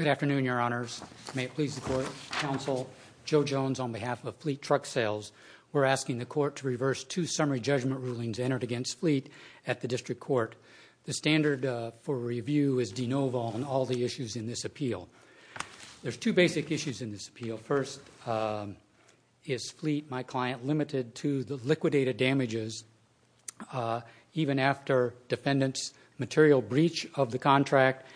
Good afternoon, Your Honors. May it please the Court, Counsel. Joe Jones on behalf of Fleet Truck Sales. We're asking the Court to reverse two summary judgment rulings entered against Fleet at the District Court. The standard for review is de novo on all the issues in this appeal. There's two basic issues in this appeal. First, is Fleet, my client, limited to the liquidated damages even after defendant's material breach of the contract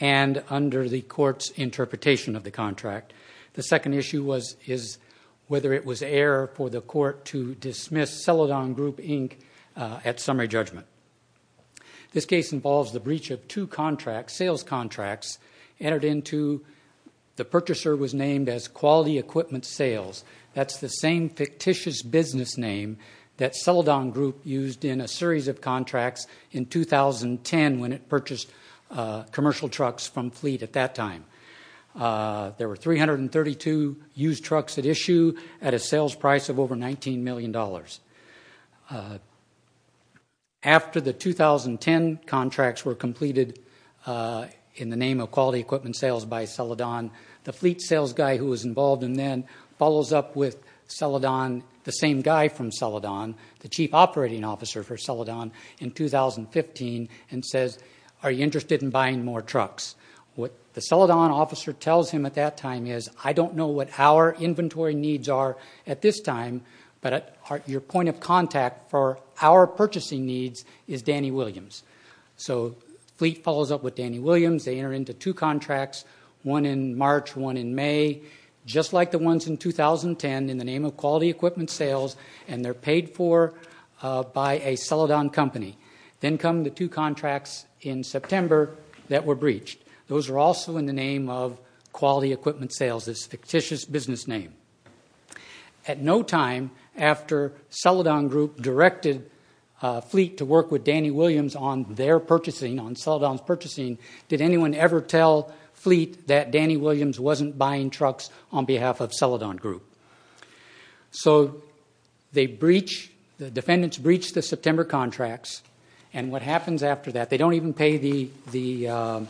and under the Court's interpretation of the contract. The second issue is whether it was error for the Court to dismiss Celadon Group, Inc. at summary judgment. This case involves the breach of two sales contracts entered into, the purchaser was named as Quality Equipment Sales. That's the same fictitious business name that Celadon Group used in a series of contracts in 2010 when it purchased commercial trucks from Fleet at that time. There were 332 used trucks at issue at a sales price of over $19 million. After the 2010 contracts were completed in the name of Quality Equipment Sales by Celadon, the Fleet sales guy who was involved in them follows up with Celadon, the same guy from Celadon, the Chief Operating Officer for Celadon in 2015 and says, are you interested in buying more trucks? What the Celadon officer tells him at that time is, I don't know what our inventory needs are at this time, but your point of contact for our purchasing needs is Danny Williams. So Fleet follows up with Danny Williams, they enter into two contracts, one in March, one in May. Just like the ones in 2010 in the name of Quality Equipment Sales and they're paid for by a Celadon company. Then come the two contracts in September that were breached. Those were also in the name of Quality Equipment Sales, this fictitious business name. At no time after Celadon Group directed Fleet to work with Danny Williams on their purchasing, on Celadon's purchasing, did anyone ever tell Fleet that Danny Williams wasn't buying trucks on behalf of Celadon Group. So the defendants breached the September contracts and what happens after that, they don't even pay the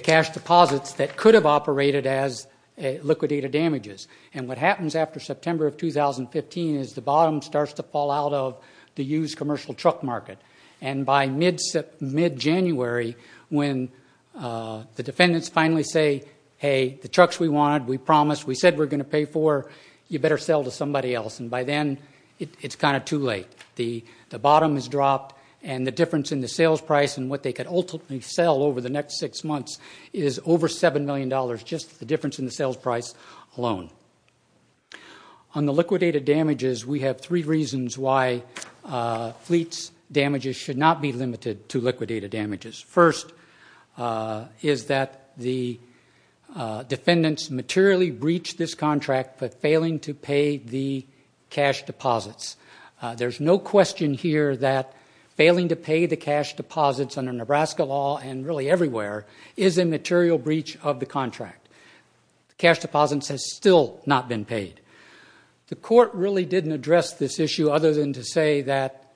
cash deposits that could have operated as liquidated damages. And what happens after September of 2015 is the bottom starts to fall out of the used commercial truck market. And by mid-January, when the defendants finally say, hey, the trucks we wanted, we promised, we said we're going to pay for, you better sell to somebody else. And by then, it's kind of too late. The bottom has dropped and the difference in the sales price and what they could ultimately sell over the next six months is over $7 million, just the difference in the sales price alone. On the liquidated damages, we have three reasons why Fleet's damages should not be limited to liquidated damages. First is that the defendants materially breached this contract for failing to pay the cash deposits. There's no question here that failing to pay the cash deposits under Nebraska law and really everywhere is a material breach of the contract. Cash deposits has still not been paid. The court really didn't address this issue other than to say that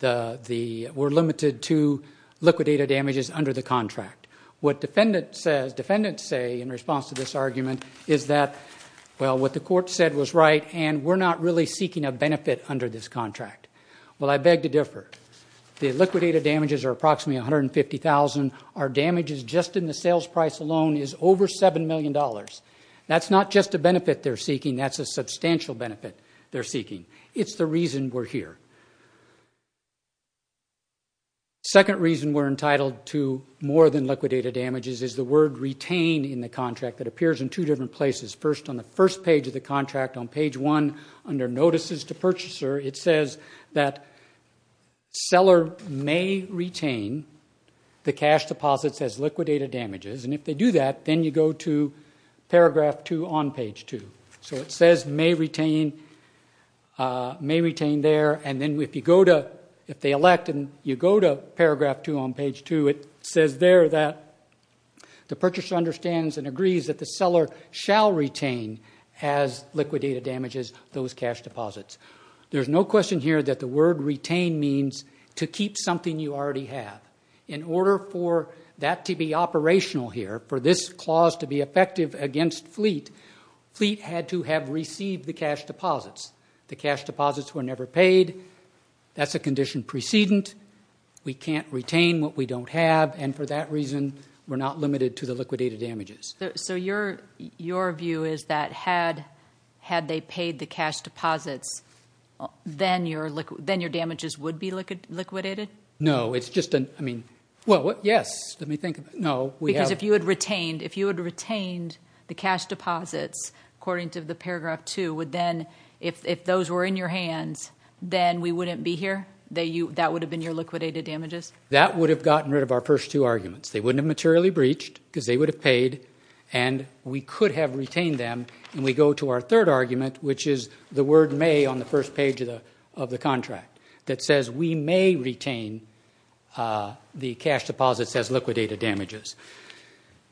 we're limited to liquidated damages under the contract. What defendants say in response to this argument is that, well, what the court said was right and we're not really seeking a benefit under this contract. Well, I beg to differ. The liquidated damages are approximately $150,000. Our damages just in the sales price alone is over $7 million. That's not just a benefit they're seeking, that's a substantial benefit they're seeking. It's the reason we're here. Second reason we're entitled to more than liquidated damages is the word retained in the contract that appears in two different places. First on the first page of the contract on page one, under notices to purchaser, it says that seller may retain the cash deposits as liquidated damages. If they do that, then you go to paragraph two on page two. It says may retain there, and then if they elect and you go to paragraph two on page two, it says there that the purchaser understands and agrees that the seller shall retain as liquidated damages those cash deposits. There's no question here that the word retained means to keep something you already have. In order for that to be operational here, for this The cash deposits were never paid. That's a condition precedent. We can't retain what we don't have, and for that reason, we're not limited to the liquidated damages. Your view is that had they paid the cash deposits, then your damages would be liquidated? No. It's just a... I mean... Well, yes. Let me think. No. Because if you had retained the cash deposits according to the paragraph two, if those were in your hands, then we wouldn't be here? That would have been your liquidated damages? That would have gotten rid of our first two arguments. They wouldn't have materially breached because they would have paid, and we could have retained them. We go to our third argument, which is the word may on the first page of the contract that says we may retain the cash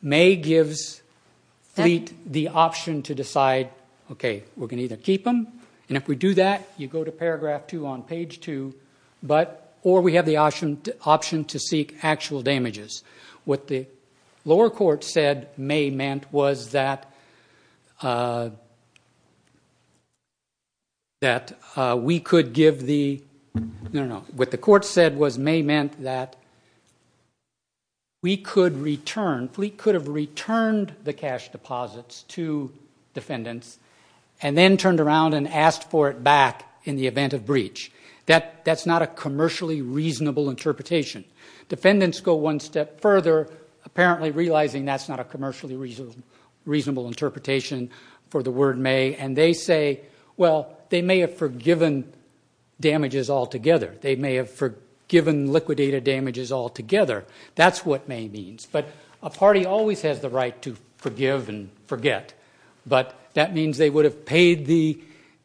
May gives Fleet the option to decide, okay, we're going to either keep them, and if we do that, you go to paragraph two on page two, or we have the option to seek actual damages. What the lower court said may meant was that we could give the... No, no, no. What the returned the cash deposits to defendants, and then turned around and asked for it back in the event of breach. That's not a commercially reasonable interpretation. Defendants go one step further, apparently realizing that's not a commercially reasonable interpretation for the word may, and they say, well, they may have forgiven damages altogether. That's what may means. A party always has the right to forgive and forget, but that means they would have paid the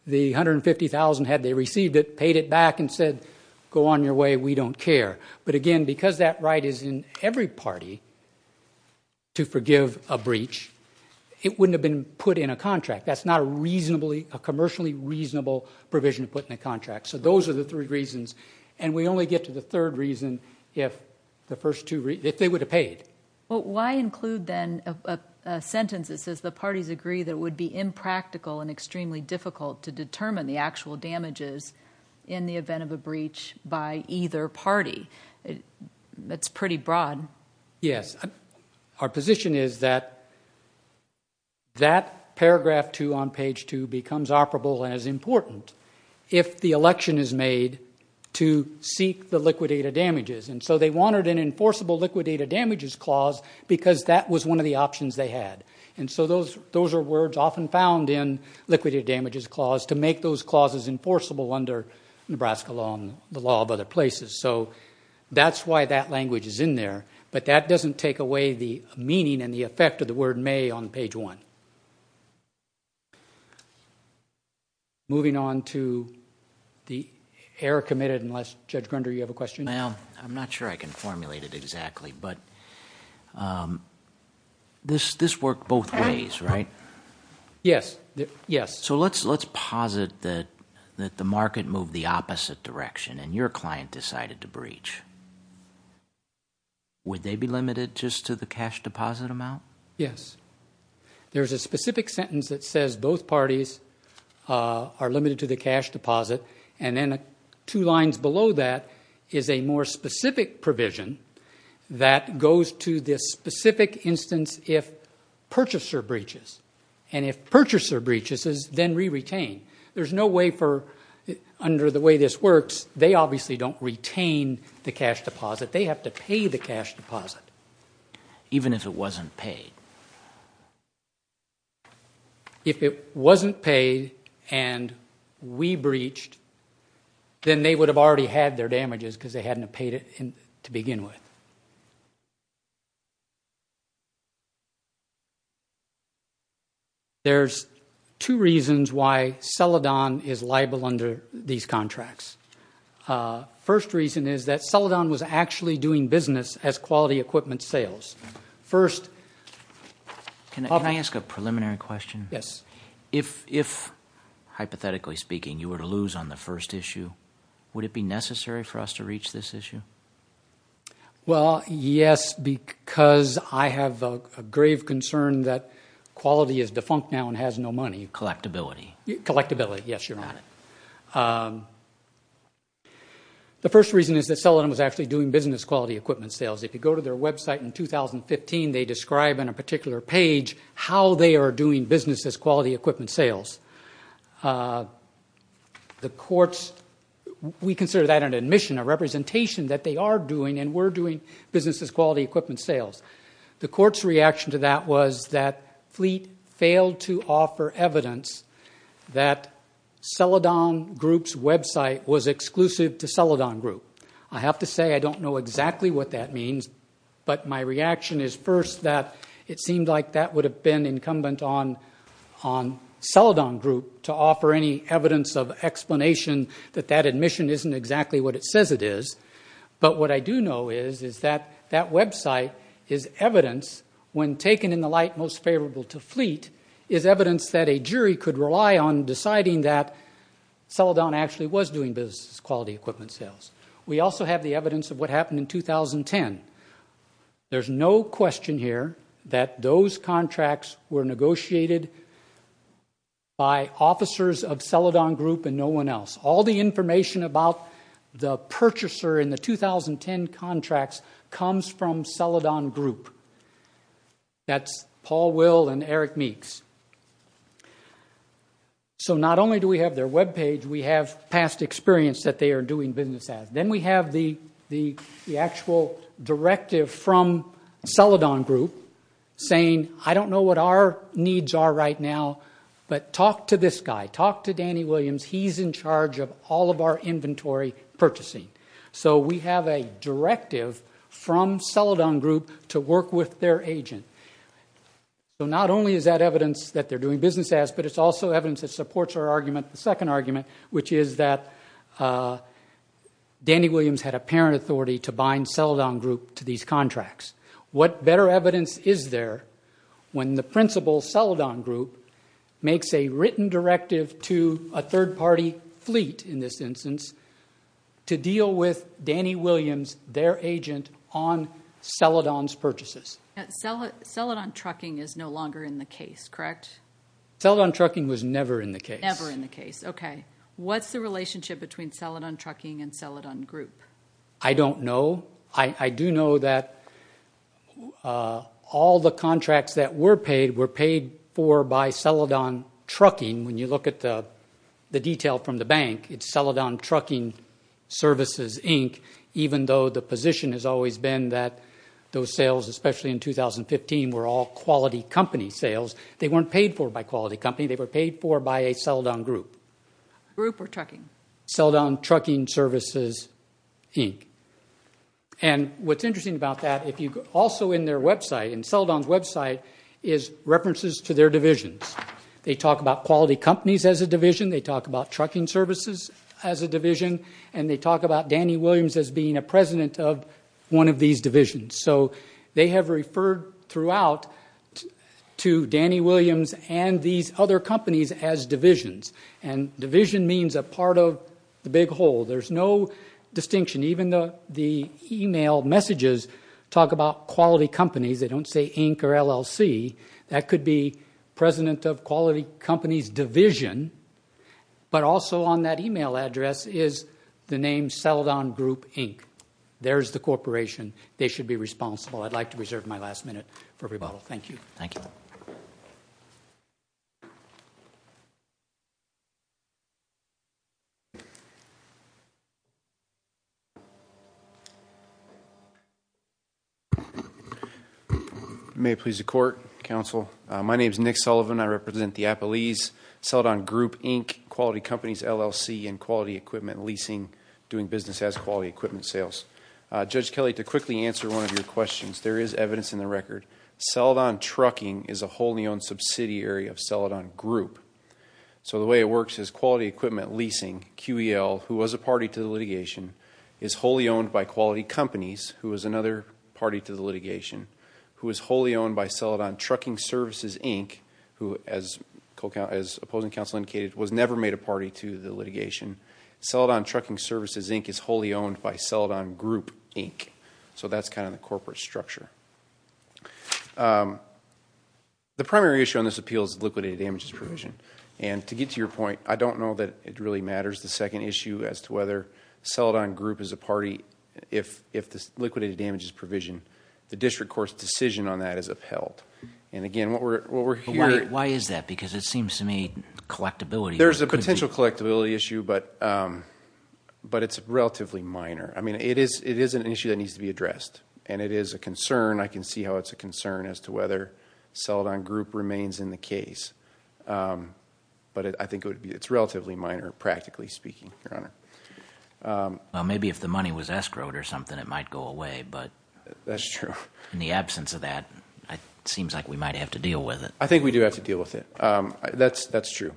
$150,000 had they received it, paid it back, and said, go on your way. We don't care. Again, because that right is in every party to forgive a breach, it wouldn't have been put in a contract. That's not a commercially reasonable provision to put in a contract. Those are the three reasons. We only get to the third reason if the first two... If they would have paid. Why include then a sentence that says the parties agree that it would be impractical and extremely difficult to determine the actual damages in the event of a breach by either party? That's pretty broad. Yes. Our position is that that paragraph two on page two becomes operable as important if the election is made to seek the liquidated damages. They wanted an enforceable liquidated damages clause because that was one of the options they had. Those are words often found in liquidated damages clause to make those clauses enforceable under Nebraska law and the law of other places. That's why that language is in there, but that doesn't take away the meaning and the effect of the word may on page one. Moving on to the error committed, unless Judge Grunder, you have a question? I'm not sure I can formulate it exactly, but this worked both ways, right? Yes. Let's posit that the market moved the opposite direction and your client decided to breach. Would they be limited just to the cash deposit amount? Yes. There's a specific sentence that says both parties are limited to the cash deposit and then two lines below that is a more specific provision that goes to this specific instance if purchaser breaches. If purchaser breaches, then re-retain. There's no way for, under the way this works, they obviously don't retain the cash deposit. They have to pay the cash deposit. Even if it wasn't paid? If it wasn't paid and we breached, then they would have already had their damages because they hadn't paid it to begin with. There's two reasons why Celadon is liable under these contracts. First reason is that it's doing business quality equipment sales. Can I ask a preliminary question? Yes. If, hypothetically speaking, you were to lose on the first issue, would it be necessary for us to reach this issue? Well, yes, because I have a grave concern that quality is defunct now and has no money. Collectability. Collectability, yes, Your Honor. The first reason is that Celadon was actually doing business quality equipment sales. If you go to their website in 2015, they describe in a particular page how they are doing business as quality equipment sales. The courts, we consider that an admission, a representation that they are doing and were doing business as quality equipment sales. The court's reaction to that was that Fleet failed to offer evidence that Celadon was exclusive to Celadon Group. I have to say I don't know exactly what that means, but my reaction is first that it seemed like that would have been incumbent on Celadon Group to offer any evidence of explanation that that admission isn't exactly what it says it is. But what I do know is that that website is evidence when taken in the light most favorable to Fleet is evidence that a jury could rely on deciding that Celadon actually was doing business as quality equipment sales. We also have the evidence of what happened in 2010. There is no question here that those contracts were negotiated by officers of Celadon Group and no one else. All the information about the purchaser in the 2010 contracts comes from Celadon Group. That's Paul Will and Eric Meeks. So not only do we have their webpage, we have past experience that they are doing business as. Then we have the actual directive from Celadon Group saying I don't know what our needs are right now, but talk to this guy. Talk to Danny Williams. He's in charge of all of our inventory purchasing. So we have a directive from Celadon Group to work with their agent. So not only is that evidence that they're doing business as, but it's also evidence that supports our argument, the second argument, which is that Danny Williams had apparent authority to bind Celadon Group to these contracts. What better evidence is there when the principal, Celadon Group, makes a written directive to a third-party fleet, in this instance, to deal with Danny Williams, their agent, on Celadon's purchases? Celadon Trucking is no longer in the case, correct? Celadon Trucking was never in the case. Never in the case. Okay. What's the relationship between Celadon Trucking and Celadon Group? I don't know. I do know that all the contracts that were paid were paid for by Celadon Trucking. When you look at the detail from the bank, it's Celadon Trucking Services, Inc., even though the position has always been that those sales, especially in 2015, were all quality company sales. They weren't paid for by quality company. They were paid for by a Celadon Group. Group or trucking? Celadon Trucking Services, Inc. And what's interesting about that, also in their website, in Celadon's website, is references to their divisions. They talk about quality companies as a division. They talk about trucking services as a division. And they talk about Danny Williams as being a president of one of these divisions. So they have referred throughout to Danny Williams and these other companies as divisions. And division means a part of the big whole. There's no distinction. Even the email messages talk about quality companies. They don't say Inc. or LLC. That could be president of quality company's division. But also on that email address is the name Celadon Group, Inc. There's the corporation. They should be responsible. I'd like to reserve my last minute for rebuttal. Thank you. Thank you. Thank you. May it please the court, counsel. My name is Nick Sullivan. I represent the Appalese. Celadon Group, Inc., Quality Companies, LLC, and Quality Equipment Leasing, doing business as quality equipment sales. Judge Kelly, to quickly answer one of your questions, there is evidence in the record. Celadon Trucking is a wholly owned subsidiary of Celadon Group. So the way it works is Quality Equipment Leasing, QEL, who was a party to the litigation, is wholly owned by Quality Companies, who is another party to the litigation, who is wholly owned by Celadon Trucking Services, Inc., who, as opposing counsel indicated, was never made a party to the litigation. Celadon Trucking Services, Inc. is wholly owned by Celadon Group, Inc. So that's kind of the corporate structure. The primary issue on this appeal is liquidated damages provision. And to get to your point, I don't know that it really matters, the second issue, as to whether Celadon Group is a party if this liquidated damages provision, the district court's decision on that is upheld. And, again, what we're hearing – Why is that? Because it seems to me collectability – There's a potential collectability issue, but it's relatively minor. I mean, it is an issue that needs to be addressed. And it is a concern. I can see how it's a concern as to whether Celadon Group remains in the case. But I think it's relatively minor, practically speaking, Your Honor. Well, maybe if the money was escrowed or something, it might go away. That's true. In the absence of that, it seems like we might have to deal with it. I think we do have to deal with it. That's true.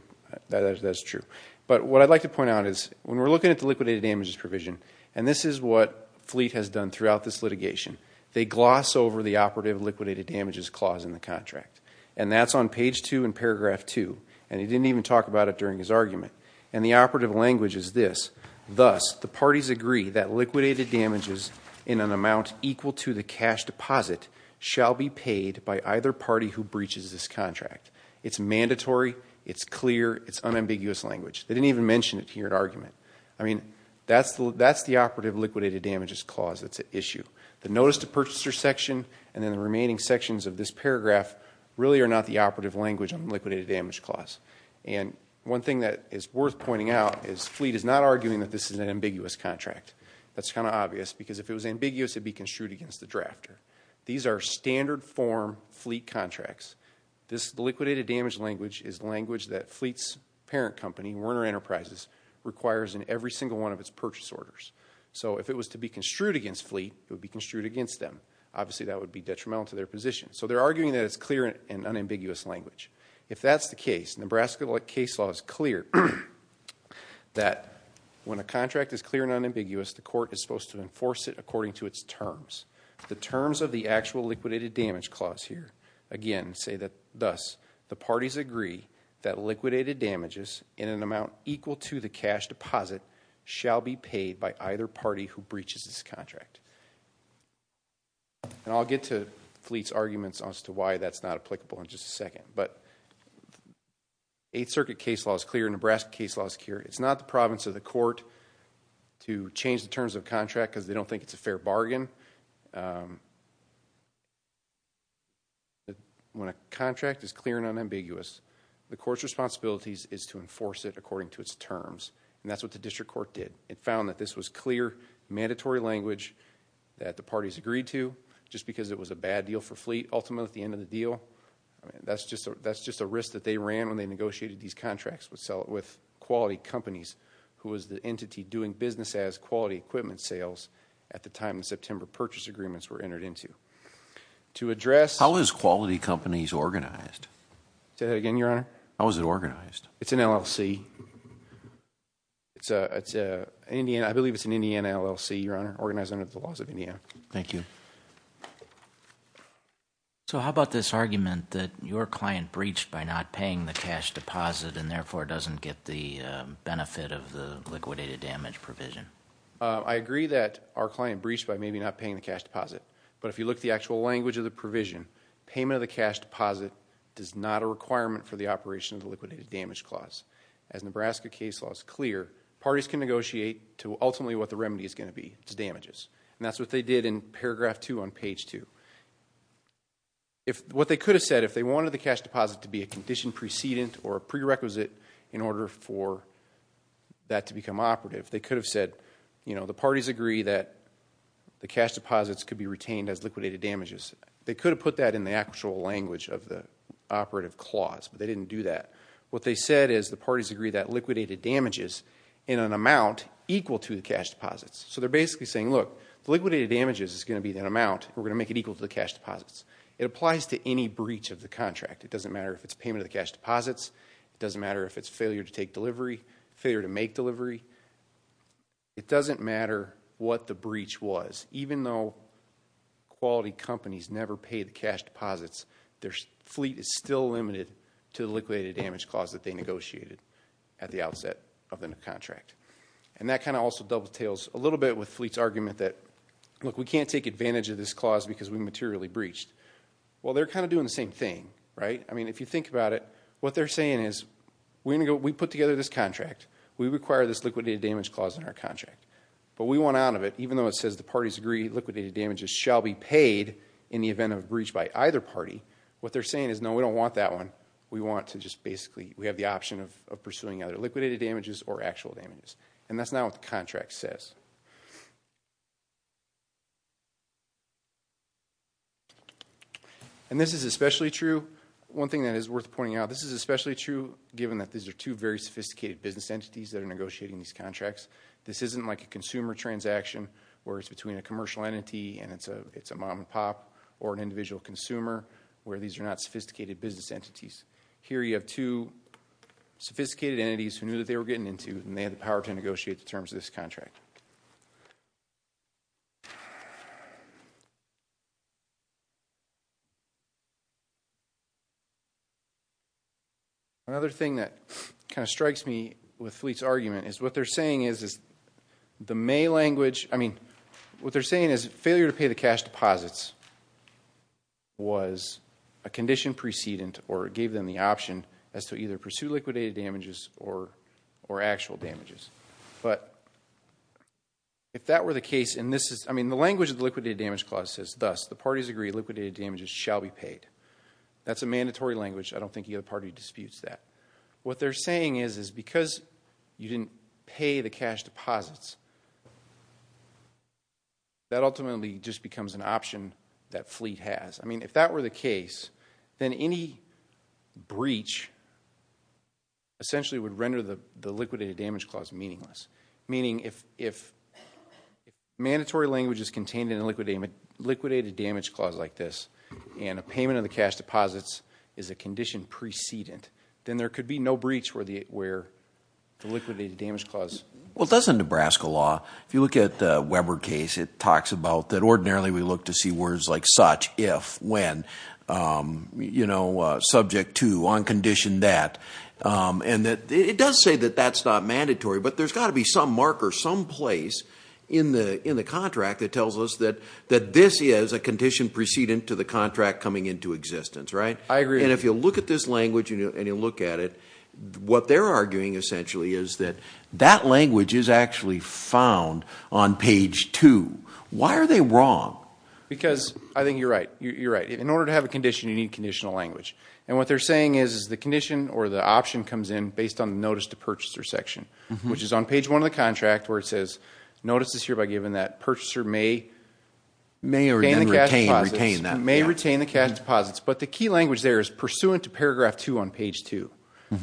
That is true. But what I'd like to point out is when we're looking at the liquidated damages provision, and this is what Fleet has done throughout this litigation, they gloss over the operative liquidated damages clause in the contract. And that's on page 2 in paragraph 2. And he didn't even talk about it during his argument. And the operative language is this. Thus, the parties agree that liquidated damages in an amount equal to the cash deposit shall be paid by either party who breaches this contract. It's mandatory. It's clear. It's unambiguous language. They didn't even mention it here in argument. I mean, that's the operative liquidated damages clause that's at issue. The notice to purchaser section and then the remaining sections of this paragraph really are not the operative language on the liquidated damage clause. And one thing that is worth pointing out is Fleet is not arguing that this is an ambiguous contract. That's kind of obvious because if it was ambiguous, it would be construed against the drafter. These are standard form Fleet contracts. This liquidated damage language is language that Fleet's parent company, Warner Enterprises, requires in every single one of its purchase orders. So if it was to be construed against Fleet, it would be construed against them. Obviously, that would be detrimental to their position. So they're arguing that it's clear and unambiguous language. If that's the case, Nebraska case law is clear that when a contract is clear and unambiguous, the court is supposed to enforce it according to its terms. The terms of the actual liquidated damage clause here, again, say that thus, the parties agree that liquidated damages in an amount equal to the cash deposit shall be paid by either party who breaches this contract. And I'll get to Fleet's arguments as to why that's not applicable in just a second. But Eighth Circuit case law is clear, Nebraska case law is clear. It's not the province or the court to change the terms of contract because they don't think it's a fair bargain. When a contract is clear and unambiguous, the court's responsibility is to enforce it according to its terms. And that's what the district court did. It found that this was clear, mandatory language that the parties agreed to just because it was a bad deal for Fleet ultimately at the end of the deal. That's just a risk that they ran when they negotiated these contracts with quality companies who was the entity doing business as quality equipment sales at the time the September purchase agreements were entered into. To address... How is quality companies organized? Say that again, Your Honor. How is it organized? It's an LLC. I believe it's an Indiana LLC, Your Honor, organized under the laws of Indiana. Thank you. So how about this argument that your client breached by not paying the cash deposit and therefore doesn't get the benefit of the liquidated damage provision? I agree that our client breached by maybe not paying the cash deposit. But if you look at the actual language of the provision, payment of the cash deposit does not a requirement for the operation of the liquidated damage clause. As Nebraska case law is clear, parties can negotiate to ultimately what the remedy is going to be, which is damages. And that's what they did in paragraph 2 on page 2. What they could have said if they wanted the cash deposit to be a condition precedent or a prerequisite in order for that to become operative, they could have said the parties agree that the cash deposits could be retained as liquidated damages. They could have put that in the actual language of the operative clause, but they didn't do that. What they said is the parties agree that liquidated damages in an amount equal to the cash deposits. So they're basically saying, look, the liquidated damages is going to be in an amount and we're going to make it equal to the cash deposits. It applies to any breach of the contract. It doesn't matter if it's payment of the cash deposits. It doesn't matter if it's failure to take delivery, failure to make delivery. It doesn't matter what the breach was. Even though quality companies never pay the cash deposits, their fleet is still limited to the liquidated damage clause that they negotiated at the outset of the contract. And that kind of also doubletails a little bit with Fleet's argument that, look, we can't take advantage of this clause because we materially breached. Well, they're kind of doing the same thing, right? I mean, if you think about it, what they're saying is, we put together this contract. We require this liquidated damage clause in our contract. But we want out of it, even though it says the parties agree liquidated damages shall be paid in the event of a breach by either party, what they're saying is, no, we don't want that one. We want to just basically, we have the option of pursuing either liquidated damages or actual damages. And that's not what the contract says. And this is especially true. One thing that is worth pointing out, this is especially true given that these are two very sophisticated business entities that are negotiating these contracts. This isn't like a consumer transaction where it's between a commercial entity and it's a mom and pop or an individual consumer where these are not sophisticated business entities. Here you have two sophisticated entities who knew that they were getting into and they had the power to negotiate the terms of this contract. Another thing that kind of strikes me with Fleet's argument is what they're saying is the May language, I mean, what they're saying is failure to pay the cash deposits was a condition precedent or gave them the option as to either pursue liquidated damages or actual damages. But if that were the case, and this is, I mean, the language of the liquidated damage clause says thus, the parties agree liquidated damages shall be paid. That's a mandatory language. I don't think the other party disputes that. What they're saying is because you didn't pay the cash deposits, that ultimately just becomes an option that Fleet has. I mean, if that were the case, then any breach essentially would render the liquidated damage clause meaningless. Meaning if mandatory language is contained in a liquidated damage clause like this and a payment of the cash deposits is a condition precedent, then there could be no breach where the liquidated damage clause... Well, it does in Nebraska law. If you look at the Weber case, it talks about that ordinarily we look to see words like such, if, when, you know, subject to, on condition that. And it does say that that's not mandatory, but there's got to be some marker someplace in the contract that tells us that this is a condition precedent to the contract coming into existence, right? I agree. And if you look at this language and you look at it, what they're arguing essentially is that that language is actually found on page 2. Why are they wrong? Because I think you're right. You're right. In order to have a condition, you need conditional language. And what they're saying is the condition or the option comes in based on the notice to purchaser section, which is on page 1 of the contract where it says notice is hereby given that purchaser may... May or may not retain that. May retain the cash deposits. But the key language there is pursuant to paragraph 2 on page 2,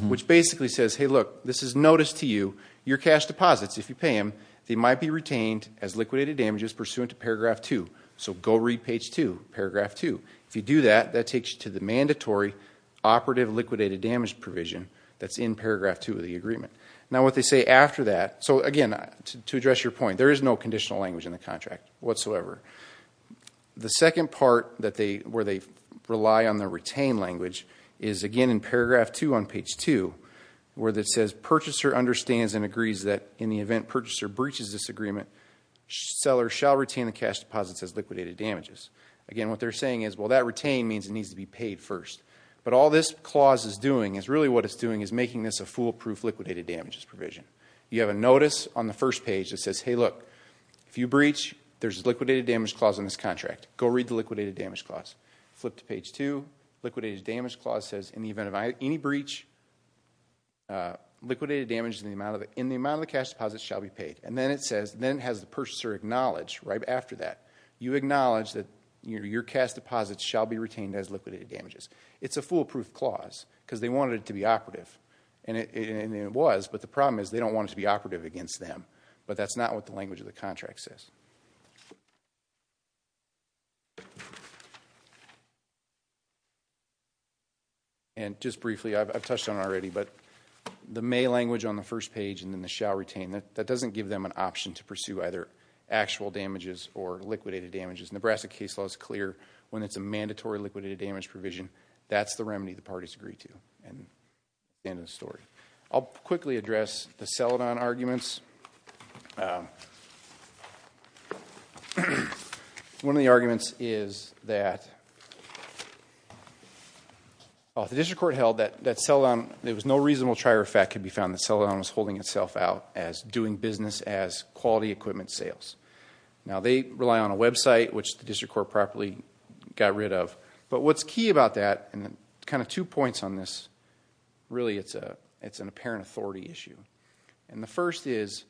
which basically says, hey, look, this is notice to you. Your cash deposits, if you pay them, they might be retained as liquidated damages pursuant to paragraph 2. So go read page 2, paragraph 2. If you do that, that takes you to the mandatory operative liquidated damage provision that's in paragraph 2 of the agreement. Now, what they say after that... So, again, to address your point, there is no conditional language in the contract whatsoever. The second part where they rely on the retain language is, again, in paragraph 2 on page 2 where it says purchaser understands and agrees that in the event purchaser breaches this agreement, seller shall retain the cash deposits as liquidated damages. Again, what they're saying is, well, that retain means it needs to be paid first. But all this clause is doing is... Really what it's doing is making this a foolproof liquidated damages provision. You have a notice on the first page that says, hey, look, if you breach, there's a liquidated damage clause in this contract. Go read the liquidated damage clause. Flip to page 2. Liquidated damage clause says, in the event of any breach, liquidated damage in the amount of the cash deposits shall be paid. And then it says... Then it has the purchaser acknowledge right after that. You acknowledge that your cash deposits shall be retained as liquidated damages. It's a foolproof clause, because they wanted it to be operative. And it was. But the problem is, they don't want it to be operative against them. But that's not what the language of the contract says. And just briefly, I've touched on it already, but the may language on the first page and then the shall retain, that doesn't give them an option to pursue either actual damages or liquidated damages. Nebraska case law is clear when it's a mandatory liquidated damage provision. That's the remedy the parties agree to. And that's the end of the story. I'll quickly address the Celadon arguments. One of the arguments is that... The district court held that Celadon... There was no reasonable trier of fact could be found that Celadon was holding itself out as doing business as quality equipment sales. Now, they rely on a website, which the district court properly got rid of. But what's key about that, and kind of two points on this, really, it's an apparent authority issue. And the first is,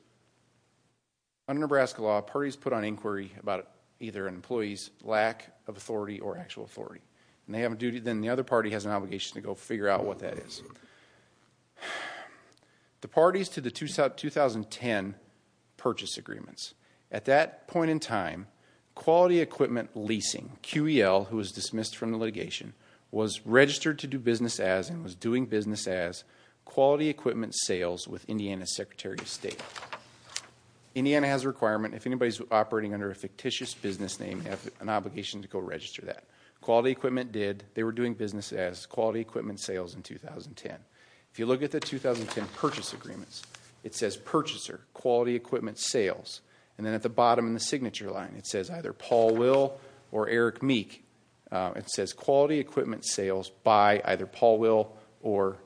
under Nebraska law, parties put on inquiry about either an employee's lack of authority or actual authority. And they have a duty, then the other party has an obligation to go figure out what that is. The parties to the 2010 purchase agreements. At that point in time, quality equipment leasing, QEL, who was dismissed from the litigation, was registered to do business as and was doing business as quality equipment sales with Indiana's Secretary of State. Indiana has a requirement. If anybody's operating under a fictitious business name, they have an obligation to go register that. Quality equipment did. They were doing business as quality equipment sales in 2010. If you look at the 2010 purchase agreements, it says purchaser, quality equipment sales. And then at the bottom in the signature line, it says either Paul Will or Eric Meek. It says quality equipment sales by either Paul Will or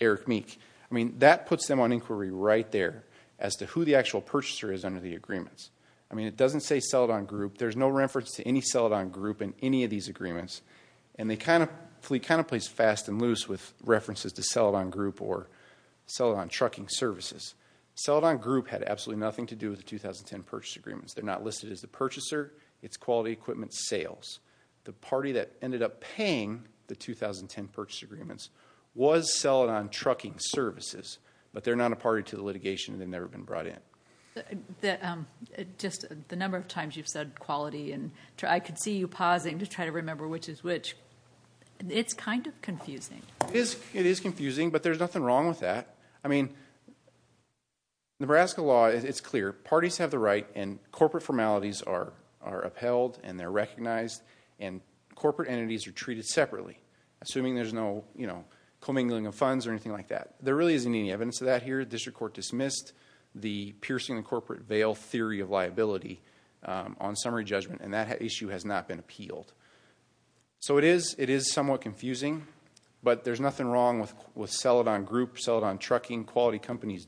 Eric Meek. That puts them on inquiry right there as to who the actual purchaser is under the agreements. It doesn't say Celadon Group. There's no reference to any Celadon Group in any of these agreements. And Fleet kind of plays fast and loose with references to Celadon Group or Celadon Trucking Services. Celadon Group had absolutely nothing to do with the 2010 purchase agreements. They're not listed as the purchaser. It's quality equipment sales. The party that ended up paying the 2010 purchase agreements was Celadon Trucking Services, but they're not a party to the litigation and they've never been brought in. Just the number of times you've said quality, and I could see you pausing to try to remember which is which. It's kind of confusing. It is confusing, but there's nothing wrong with that. I mean, Nebraska law, it's clear. Parties have the right and corporate formalities are upheld and they're recognized, and corporate entities are treated separately, assuming there's no, you know, commingling of funds or anything like that. There really isn't any evidence of that here. The district court dismissed the piercing the corporate veil theory of liability on summary judgment, and that issue has not been appealed. So it is somewhat confusing, but there's nothing wrong with Celadon Group, Celadon Trucking, quality companies,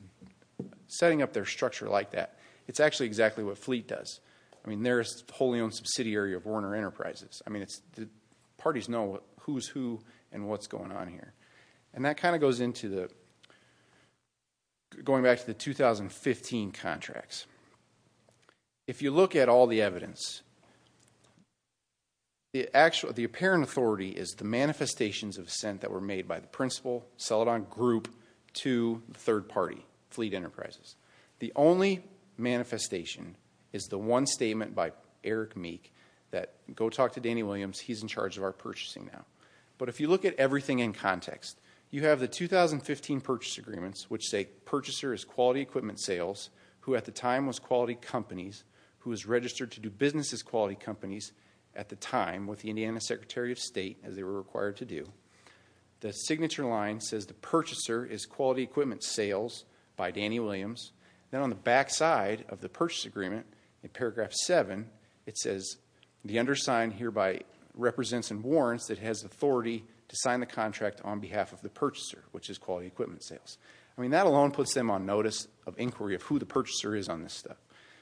setting up their structure like that. It's actually exactly what Fleet does. I mean, they're a wholly owned subsidiary of Warner Enterprises. I mean, the parties know who's who and what's going on here. And that kind of goes into the, going back to the 2015 contracts. If you look at all the evidence, the apparent authority is the manifestations of assent that were made by the principal, Celadon Group, to the third party, Fleet Enterprises. The only manifestation is the one statement by Eric Meek that, go talk to Danny Williams, he's in charge of our purchasing now. But if you look at everything in context, you have the 2015 purchase agreements, which say purchaser is quality equipment sales, who at the time was quality companies, who was registered to do business as quality companies at the time with the Indiana Secretary of State, as they were required to do. The signature line says the purchaser is quality equipment sales by Danny Williams. Then on the backside of the purchase agreement, in paragraph 7, it says, the undersigned hereby represents and warrants that has authority to sign the contract on behalf of the purchaser, which is quality equipment sales. I mean, that alone puts them on notice of inquiry of who the purchaser is on this stuff.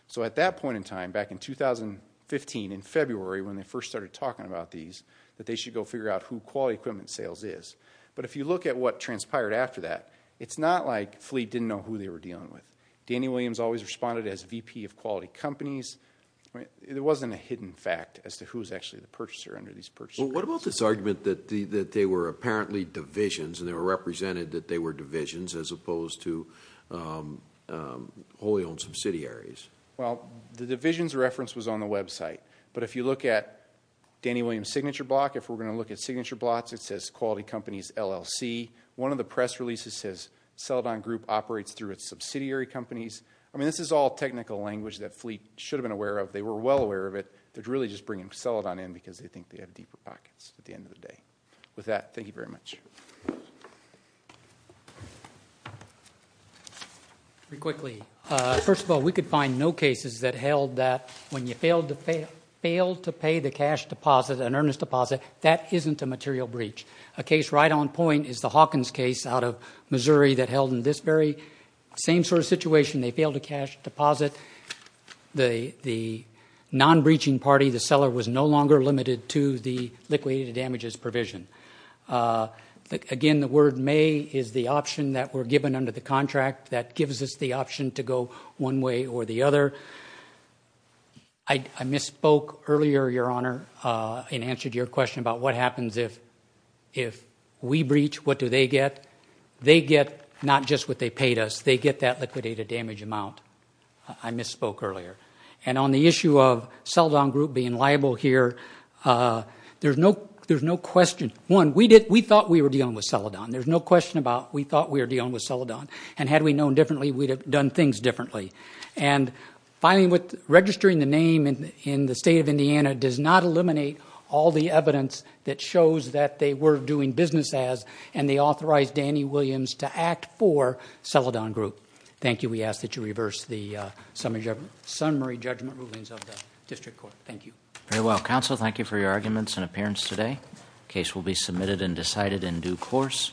So at that point in time, back in 2015, in February, when they first started talking about these, that they should go figure out who quality equipment sales is. But if you look at what transpired after that, it's not like Fleet didn't know who they were dealing with. Danny Williams always responded as VP of quality companies. There wasn't a hidden fact as to who was actually the purchaser under these purchase agreements. What about this argument that they were apparently divisions, and they were represented that they were divisions, as opposed to wholly owned subsidiaries? Well, the divisions reference was on the website. But if you look at Danny Williams' signature block, if we're going to look at signature blocks, it says quality companies LLC. One of the press releases says Celadon Group operates through its subsidiary companies. I mean, this is all technical language that Fleet should have been aware of. They were well aware of it. They're really just bringing Celadon in because they think they have deeper pockets at the end of the day. With that, thank you very much. Very quickly, first of all, we could find no cases that held that when you failed to pay the cash deposit, an earnest deposit, that isn't a material breach. A case right on point is the Hawkins case out of Missouri that held in this very same sort of situation. They failed a cash deposit. The non-breaching party, the seller, was no longer limited to the liquidated damages provision. Again, the word may is the option that we're given under the contract that gives us the option to go one way or the other. I misspoke earlier, Your Honor, in answer to your question about what happens if we breach, what do they get? They get not just what they paid us. They get that liquidated damage amount. I misspoke earlier. And on the issue of Celadon Group being liable here, there's no question. One, we thought we were dealing with Celadon. There's no question about we thought we were dealing with Celadon. And had we known differently, we'd have done things differently. And filing with, registering the name in the state of Indiana does not eliminate all the evidence that shows that they were doing business as, and they authorized Danny Williams to act for Celadon Group. Thank you. We ask that you reverse the summary judgment rulings of the district court. Thank you. Very well. Counsel, thank you for your arguments and appearance today. Case will be submitted and decided in due course.